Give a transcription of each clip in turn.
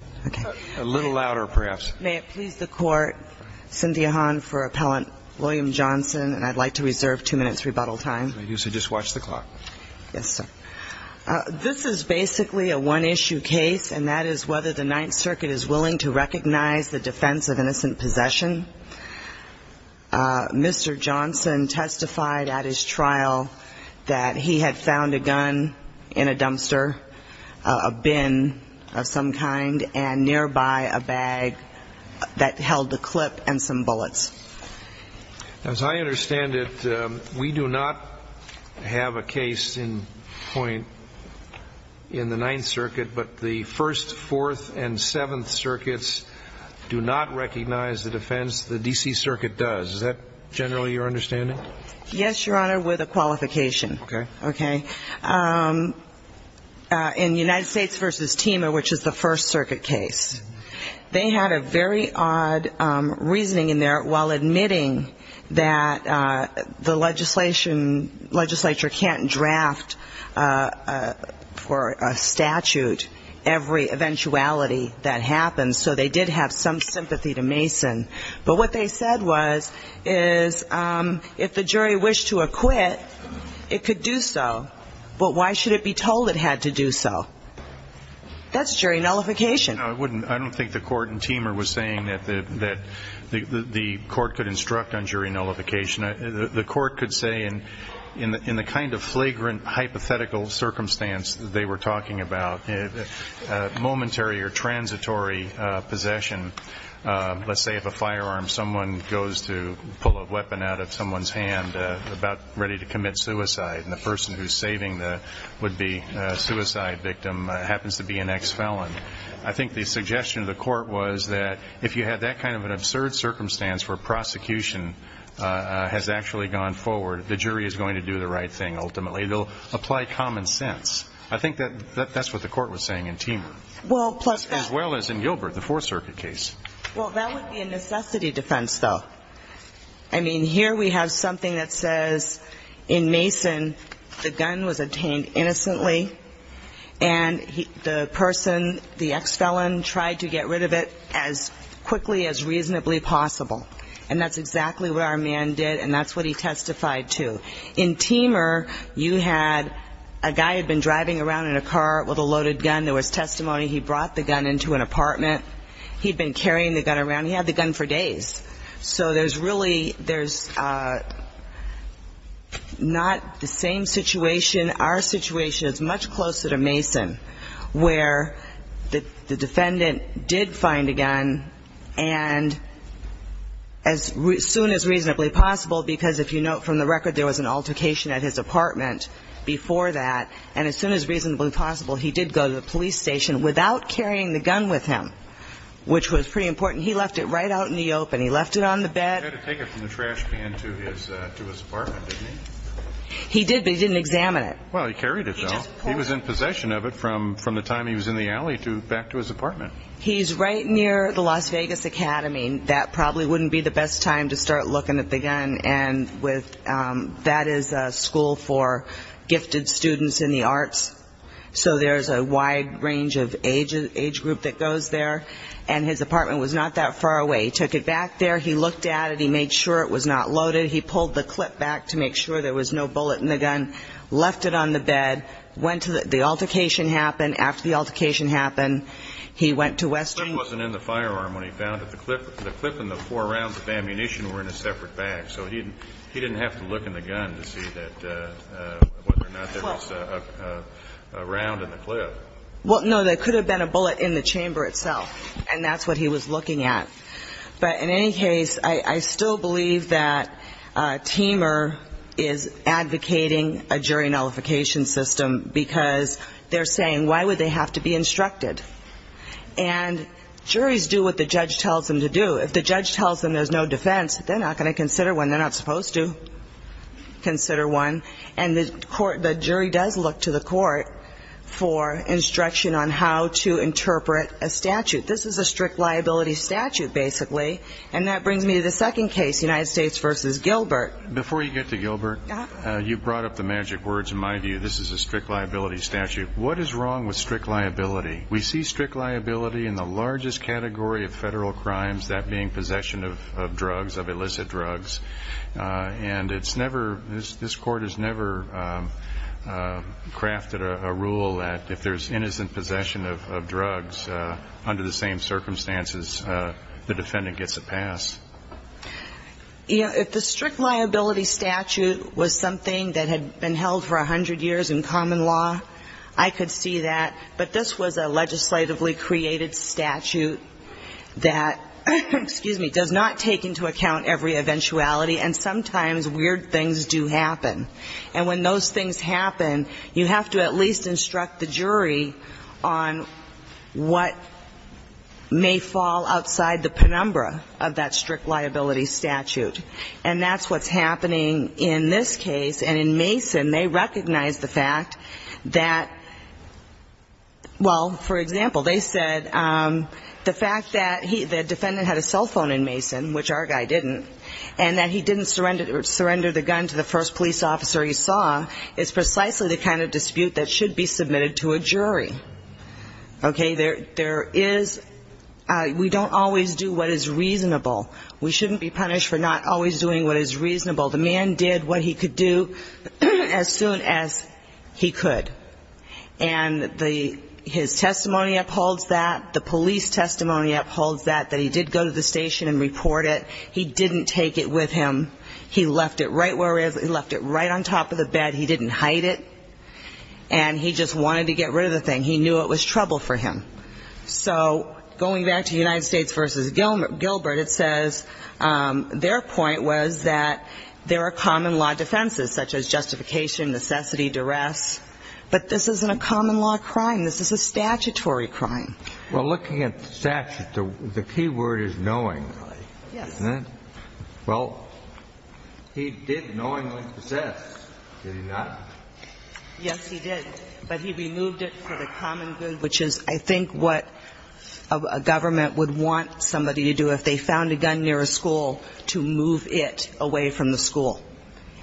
This is basically a one-issue case, and that is whether the Ninth Circuit is willing to recognize the defense of innocent possession. Mr. Johnson testified at his trial that he had found a gun in a dumpster, a bin of some kind, and nearby a bag that held a clip and some bullets. As I understand it, we do not have a case in point in the Ninth Circuit, but the First, Fourth, and Seventh Circuits do not recognize the defense the D.C. Circuit does. Is that generally your understanding? Yes, Your Honor, with a qualification. Okay. In United States v. Teema, which is the First Circuit case, they had a very odd reasoning in there while admitting that the legislature can't draft for a statute every eventuality that happens. So they did have some sympathy to Mason. But what they said was if the jury wished to acquit, it could do so, but why should it be told it had to do so? That's jury nullification. I don't think the court in Teema was saying that the court could instruct on jury nullification. The court could say in the kind of flagrant hypothetical circumstance that they were talking about, momentary or transitory possession. Let's say if a firearm, someone goes to pull a weapon out of someone's hand about ready to commit suicide, and the person who's saving the would-be suicide victim happens to be an ex-felon. I think the suggestion of the court was that if you had that kind of an absurd circumstance where prosecution has actually gone forward, the jury is going to do the right thing ultimately. They'll apply common sense. I think that's what the court was saying in Teema, as well as in Gilbert, the Fourth Circuit case. Well, that would be a necessity defense, though. I mean, here we have something that says in Mason the gun was obtained innocently, and the person, the ex-felon, tried to get rid of it as quickly as reasonably possible. And that's exactly what our man did, and that's what he testified to. In Teema, you had a guy had been driving around in a car with a loaded gun. There was testimony he brought the gun into an apartment. He'd been carrying the gun around. He had the gun for days. So there's really, there's not the same situation. Our situation is much closer to Mason, where the defendant did find a gun, and as soon as reasonably possible, because if you note from the record, there was an altercation at his apartment before that, and as soon as reasonably possible, he did go to the police station without carrying the gun with him, which was pretty important. He left it right out in the open. He left it on the bed. He had to take it from the trash can to his apartment, didn't he? He did, but he didn't examine it. Well, he carried it, though. He was in possession of it from the time he was in the alley back to his apartment. He's right near the Las Vegas Academy. That probably wouldn't be the best time to start looking at the gun, and that is a school for gifted students in the arts. So there's a wide range of age group that goes there, and his apartment was not that far away. He took it back there. He looked at it. He made sure it was not loaded. He pulled the clip back to make sure there was no bullet in the gun, left it on the bed, went to the altercation happened. The clip wasn't in the firearm when he found it. The clip and the four rounds of ammunition were in a separate bag, so he didn't have to look in the gun to see whether or not there was a round in the clip. Well, no, there could have been a bullet in the chamber itself, and that's what he was looking at. But in any case, I still believe that Teamer is advocating a jury nullification system because they're saying, why would they have to be instructed? And juries do what the judge tells them to do. If the judge tells them there's no defense, they're not going to consider one. They're not supposed to consider one. And the jury does look to the court for instruction on how to interpret a statute. This is a strict liability statute, basically, and that brings me to the second case, United States v. Gilbert. Before you get to Gilbert, you brought up the magic words. In my view, this is a strict liability statute. What is wrong with strict liability? We see strict liability in the largest category of federal crimes, that being possession of drugs, of illicit drugs. And it's never – this Court has never crafted a rule that if there's innocent possession of drugs, under the same circumstances, the defendant gets a pass. You know, if the strict liability statute was something that had been held for 100 years in common law, I could see that. But this was a legislatively created statute that, excuse me, does not take into account every eventuality, and sometimes weird things do happen. And when those things happen, you have to at least instruct the jury on what may fall outside the penumbra of that strict liability statute. And that's what's happening in this case. And in Mason, they recognize the fact that – well, for example, they said the fact that the defendant had a cell phone in Mason, which our guy didn't, and that he didn't surrender the gun to the first police officer he saw, is precisely the kind of dispute that should be submitted to a jury. Okay. There is – we don't always do what is reasonable. We shouldn't be punished for not always doing what is reasonable. The man did what he could do as soon as he could. And the – his testimony upholds that. The police testimony upholds that, that he did go to the station and report it. He didn't take it with him. He left it right where it is. He left it right on top of the bed. He didn't hide it. And he just wanted to get rid of the thing. He knew it was trouble for him. So going back to United States v. Gilbert, it says their point was that there are common law defenses, such as justification, necessity, duress. But this isn't a common law crime. This is a statutory crime. Well, looking at the statute, the key word is knowingly. Yes. Isn't it? Well, he did knowingly possess. Did he not? Yes, he did. But he removed it for the common good, which is, I think, what a government would want somebody to do if they found a gun near a school, to move it away from the school.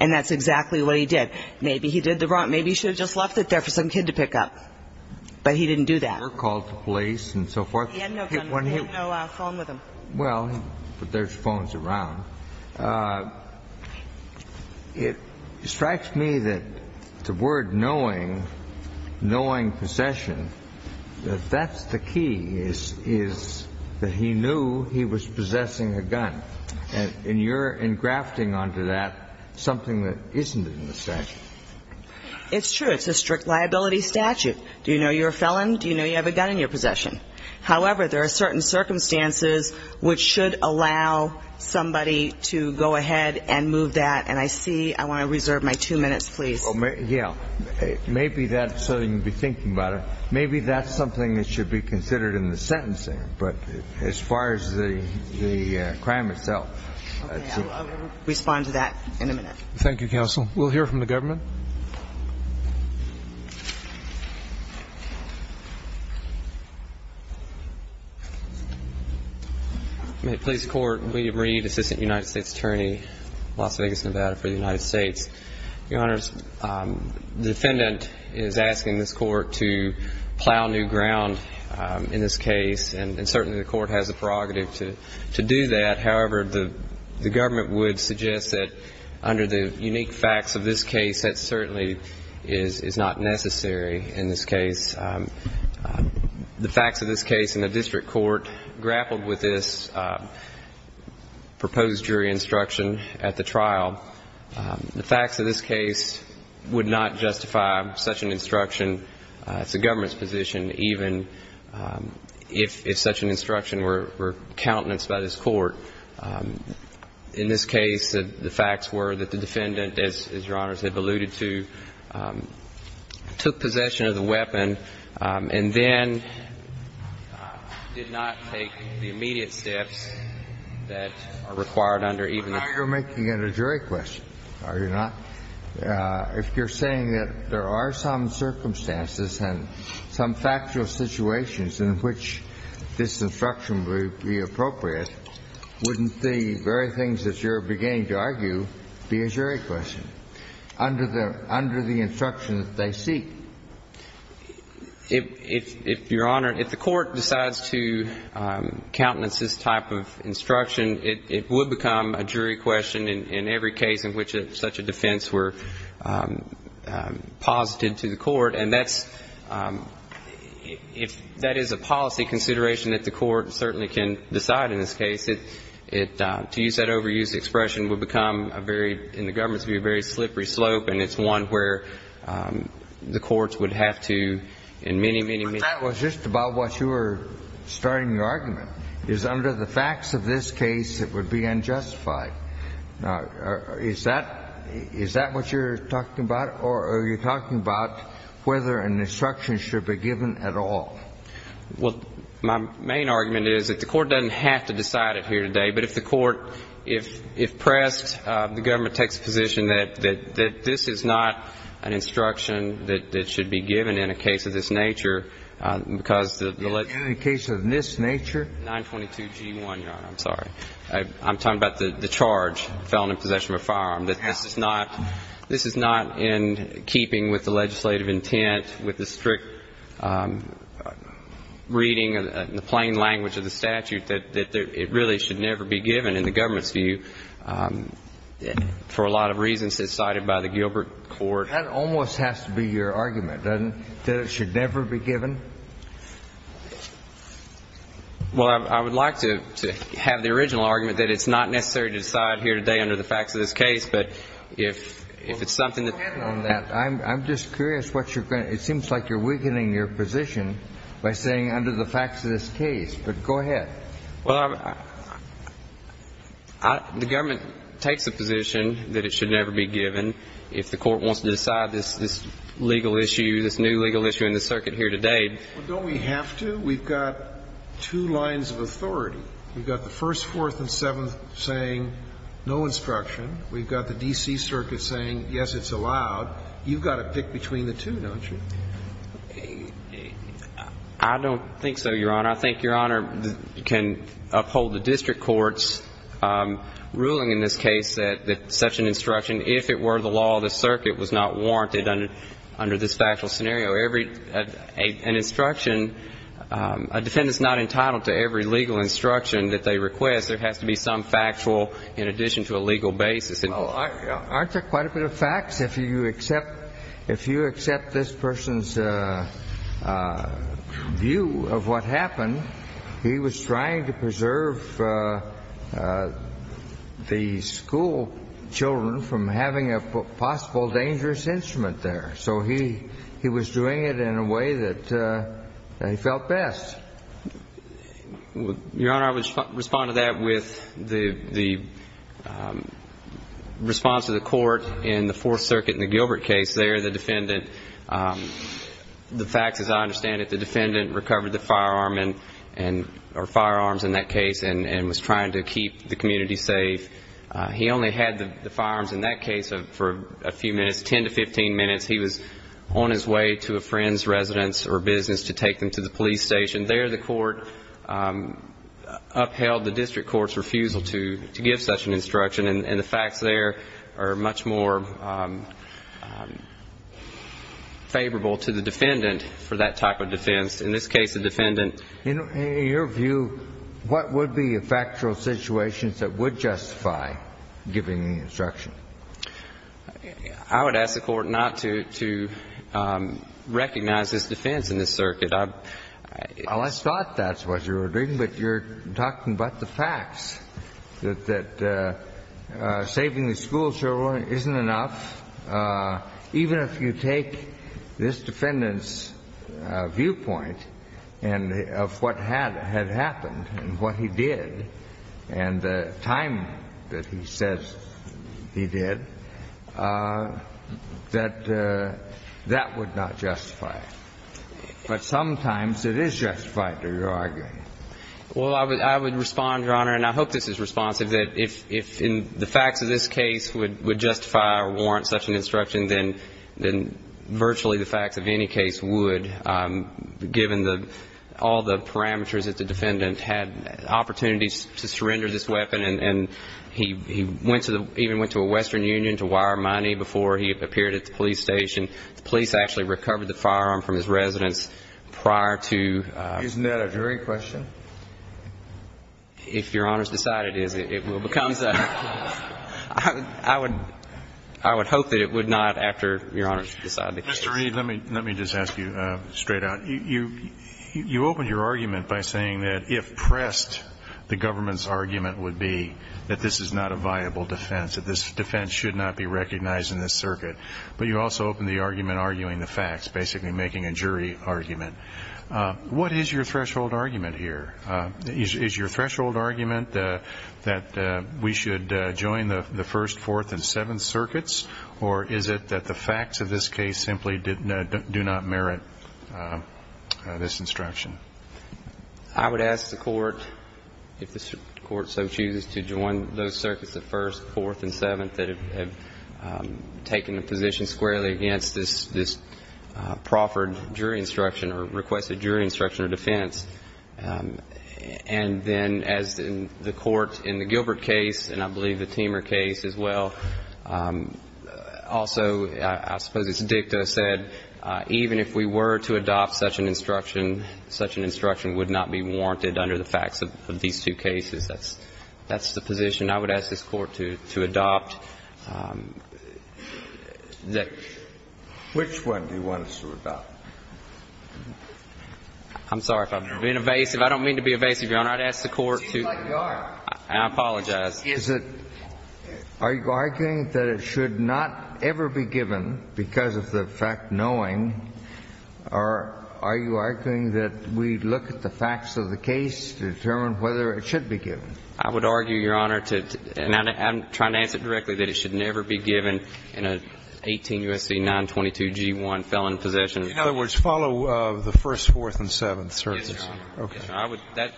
And that's exactly what he did. Maybe he did the wrong – maybe he should have just left it there for some kid to pick up. But he didn't do that. Or called the police and so forth. He had no gun. He had no phone with him. Well, but there's phones around. Now, it strikes me that the word knowing, knowing possession, that that's the key, is that he knew he was possessing a gun. And you're engrafting onto that something that isn't in the statute. It's true. It's a strict liability statute. Do you know you're a felon? Do you know you have a gun in your possession? However, there are certain circumstances which should allow somebody to go ahead and move that. And I see – I want to reserve my two minutes, please. Yeah. Maybe that's something to be thinking about. Maybe that's something that should be considered in the sentencing. But as far as the crime itself. Okay. I'll respond to that in a minute. Thank you, counsel. We'll hear from the government. Your Honor. May it please the Court. William Reed, Assistant United States Attorney, Las Vegas, Nevada for the United States. Your Honor, the defendant is asking this Court to plow new ground in this case, and certainly the Court has the prerogative to do that. However, the government would suggest that under the unique facts of this case, that certainly is not necessary in this case. The facts of this case in the district court grappled with this proposed jury instruction at the trial. The facts of this case would not justify such an instruction. It's the government's position, even if such an instruction were countenance by this Court. In this case, the facts were that the defendant, as Your Honor has alluded to, took possession of the weapon and then did not take the immediate steps that are required under even the – Now you're making it a jury question, are you not? If you're saying that there are some circumstances and some factual situations in which this instruction would be appropriate, wouldn't the very things that you're beginning to argue be a jury question under the instruction that they seek? If, Your Honor, if the Court decides to countenance this type of instruction, it would become a jury question in every case in which such a defense were posited to the Court. And that's – if that is a policy consideration that the Court certainly can decide in this case, it – to use that overused expression would become a very – in the government's view, a very slippery slope, and it's one where the courts would have to in many, many – That was just about what you were starting the argument, is under the facts of this case, it would be unjustified. Now, is that – is that what you're talking about? Or are you talking about whether an instruction should be given at all? Well, my main argument is that the Court doesn't have to decide it here today. But if the Court – if pressed, the government takes a position that this is not an instruction that should be given in a case of this nature because the – In a case of this nature? 922G1, Your Honor. I'm sorry. I'm talking about the charge, felon in possession of a firearm, that this is not – this is not in keeping with the legislative intent, with the strict reading and the plain language of the statute, that it really should never be given in the government's view for a lot of reasons cited by the Gilbert Court. That almost has to be your argument, doesn't it, that it should never be given? Well, I would like to have the original argument that it's not necessary to decide here today under the facts of this case, but if it's something that – Well, go ahead on that. I'm just curious what you're going – it seems like you're weakening your position by saying under the facts of this case, but go ahead. Well, I – the government takes a position that it should never be given if the court wants to decide this legal issue, this new legal issue in the circuit here today. Well, don't we have to? We've got two lines of authority. We've got the First, Fourth, and Seventh saying no instruction. We've got the D.C. Circuit saying yes, it's allowed. You've got to pick between the two, don't you? I don't think so, Your Honor. Your Honor, I think Your Honor can uphold the district court's ruling in this case that such an instruction, if it were the law of the circuit, was not warranted under this factual scenario. Every – an instruction – a defendant's not entitled to every legal instruction that they request. There has to be some factual in addition to a legal basis. Well, aren't there quite a bit of facts? If you accept – if you accept this person's view of what happened, he was trying to preserve the schoolchildren from having a possible dangerous instrument there. So he was doing it in a way that he felt best. Your Honor, I would respond to that with the response to the court in the Fourth Circuit in the Gilbert case there. The defendant – the facts, as I understand it, the defendant recovered the firearm and – or firearms in that case and was trying to keep the community safe. He only had the firearms in that case for a few minutes, 10 to 15 minutes. He was on his way to a friend's residence or business to take them to the police station. There the court upheld the district court's refusal to give such an instruction. And the facts there are much more favorable to the defendant for that type of defense. In this case, the defendant – In your view, what would be a factual situation that would justify giving the instruction? I would ask the court not to recognize this defense in this circuit. Well, I thought that's what you were doing, but you're talking about the facts, that saving the schoolchildren isn't enough. Even if you take this defendant's viewpoint of what had happened and what he did and the time that he says he did, that that would not justify it. But sometimes it is justified to argue. Well, I would respond, Your Honor, and I hope this is responsive, that if the facts of this case would justify or warrant such an instruction, then virtually the facts of any case would, given all the parameters that the defendant had. Opportunities to surrender this weapon, and he even went to a Western Union to wire money before he appeared at the police station. The police actually recovered the firearm from his residence prior to – Isn't that a jury question? If Your Honor's decided it is, it will become so. I would hope that it would not after Your Honor's decided the case. Mr. Reid, let me just ask you straight out. You opened your argument by saying that if pressed, the government's argument would be that this is not a viable defense, that this defense should not be recognized in this circuit. But you also opened the argument arguing the facts, basically making a jury argument. What is your threshold argument here? Is your threshold argument that we should join the First, Fourth, and Seventh Circuits, or is it that the facts of this case simply do not merit this instruction? I would ask the Court, if the Court so chooses to join those circuits, the First, Fourth, and Seventh, that it have taken a position squarely against this proffered jury instruction or requested jury instruction or defense. And then as the Court in the Gilbert case, and I believe the Temer case as well, also I suppose as Dicto said, even if we were to adopt such an instruction, such an instruction would not be warranted under the facts of these two cases. That's the position I would ask this Court to adopt. Which one do you want us to adopt? I'm sorry. If I'm being evasive, I don't mean to be evasive, Your Honor. I'd ask the Court to. It seems like you are. I apologize. Are you arguing that it should not ever be given because of the fact knowing, or are you arguing that we look at the facts of the case to determine whether it should be given? I would argue, Your Honor, and I'm trying to answer it directly, that it should never be given in an 18 U.S.C. 922-G1 felon possession. In other words, follow the First, Fourth, and Seventh. Yes, Your Honor. Okay.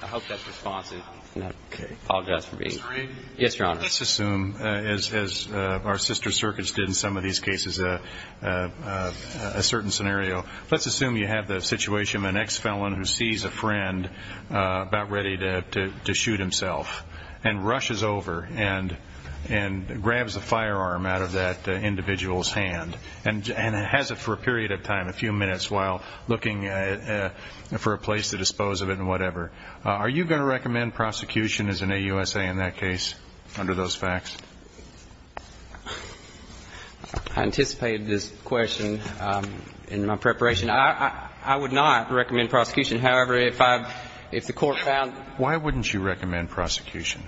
I hope that's responsive. Okay. I apologize for being. Yes, Your Honor. Let's assume, as our sister circuits did in some of these cases, a certain scenario. Let's assume you have the situation of an ex-felon who sees a friend about ready to shoot himself and rushes over and grabs a firearm out of that individual's hand and has it for a period of time, a few minutes, while looking for a place to dispose of it and whatever. Are you going to recommend prosecution as an AUSA in that case under those facts? I anticipated this question in my preparation. I would not recommend prosecution. However, if I've, if the Court found. Why wouldn't you recommend prosecution?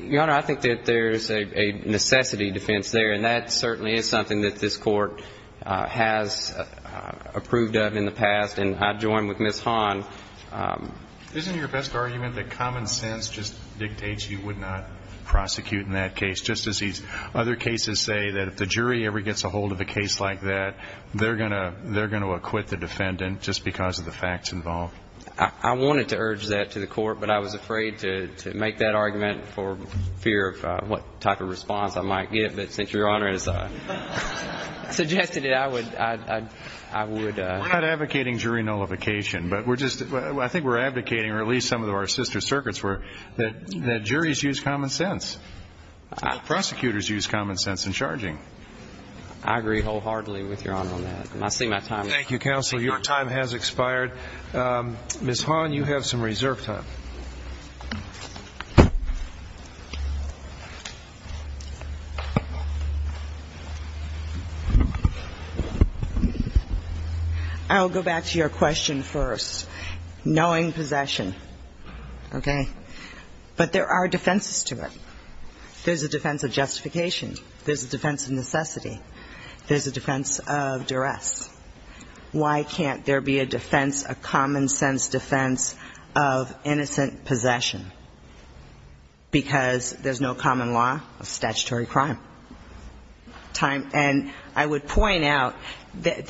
Your Honor, I think that there's a necessity defense there, and that certainly is something that this Court has approved of in the past. And I join with Ms. Hahn. Isn't your best argument that common sense just dictates you would not prosecute in that case just as these other cases say that if the jury ever gets a hold of a case like that, they're going to acquit the defendant just because of the facts involved? I wanted to urge that to the Court, but I was afraid to make that argument for fear of what type of response I might get. But since Your Honor has suggested it, I would. We're not advocating jury nullification, but we're just, I think we're advocating, or at least some of our sister circuits were, that juries use common sense. Prosecutors use common sense in charging. I agree wholeheartedly with Your Honor on that. I see my time. Thank you, counsel. Your time has expired. Ms. Hahn, you have some reserve time. I'll go back to your question first. Knowing possession, okay, but there are defenses to it. There's a defense of justification. There's a defense of necessity. There's a defense of duress. Why can't there be a defense, a common sense defense of innocent possession? Because there's no common law of statutory crime. And I would point out that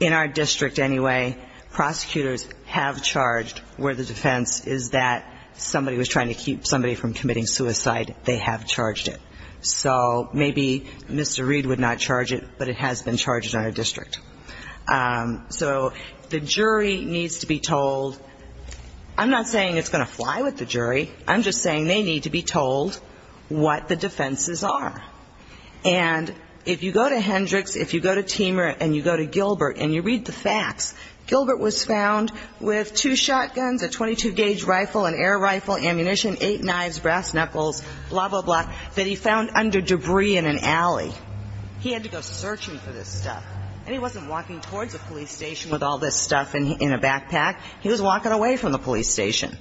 in our district anyway, prosecutors have charged where the defense is that somebody was trying to keep somebody from committing suicide. They have charged it. So maybe Mr. Reed would not charge it, but it has been charged in our district. So the jury needs to be told. I'm not saying it's going to fly with the jury. I'm just saying they need to be told what the defenses are. And if you go to Hendricks, if you go to Temer, and you go to Gilbert, and you read the facts, Gilbert was found with two shotguns, a 22-gauge rifle, an air rifle, ammunition, eight knives, brass knuckles, blah, blah, blah, that he found under debris in an alley. He had to go searching for this stuff. And he wasn't walking towards a police station with all this stuff in a backpack. He was walking away from the police station.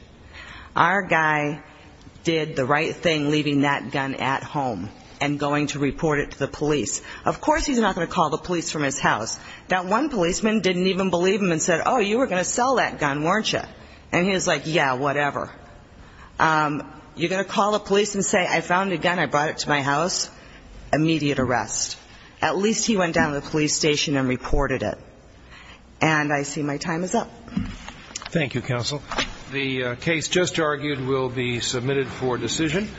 Our guy did the right thing leaving that gun at home and going to report it to the police. Of course he's not going to call the police from his house. That one policeman didn't even believe him and said, oh, you were going to sell that gun, weren't you? And he was like, yeah, whatever. You're going to call the police and say I found a gun, I brought it to my house? Immediate arrest. At least he went down to the police station and reported it. And I see my time is up. Thank you, counsel. The case just argued will be submitted for decision.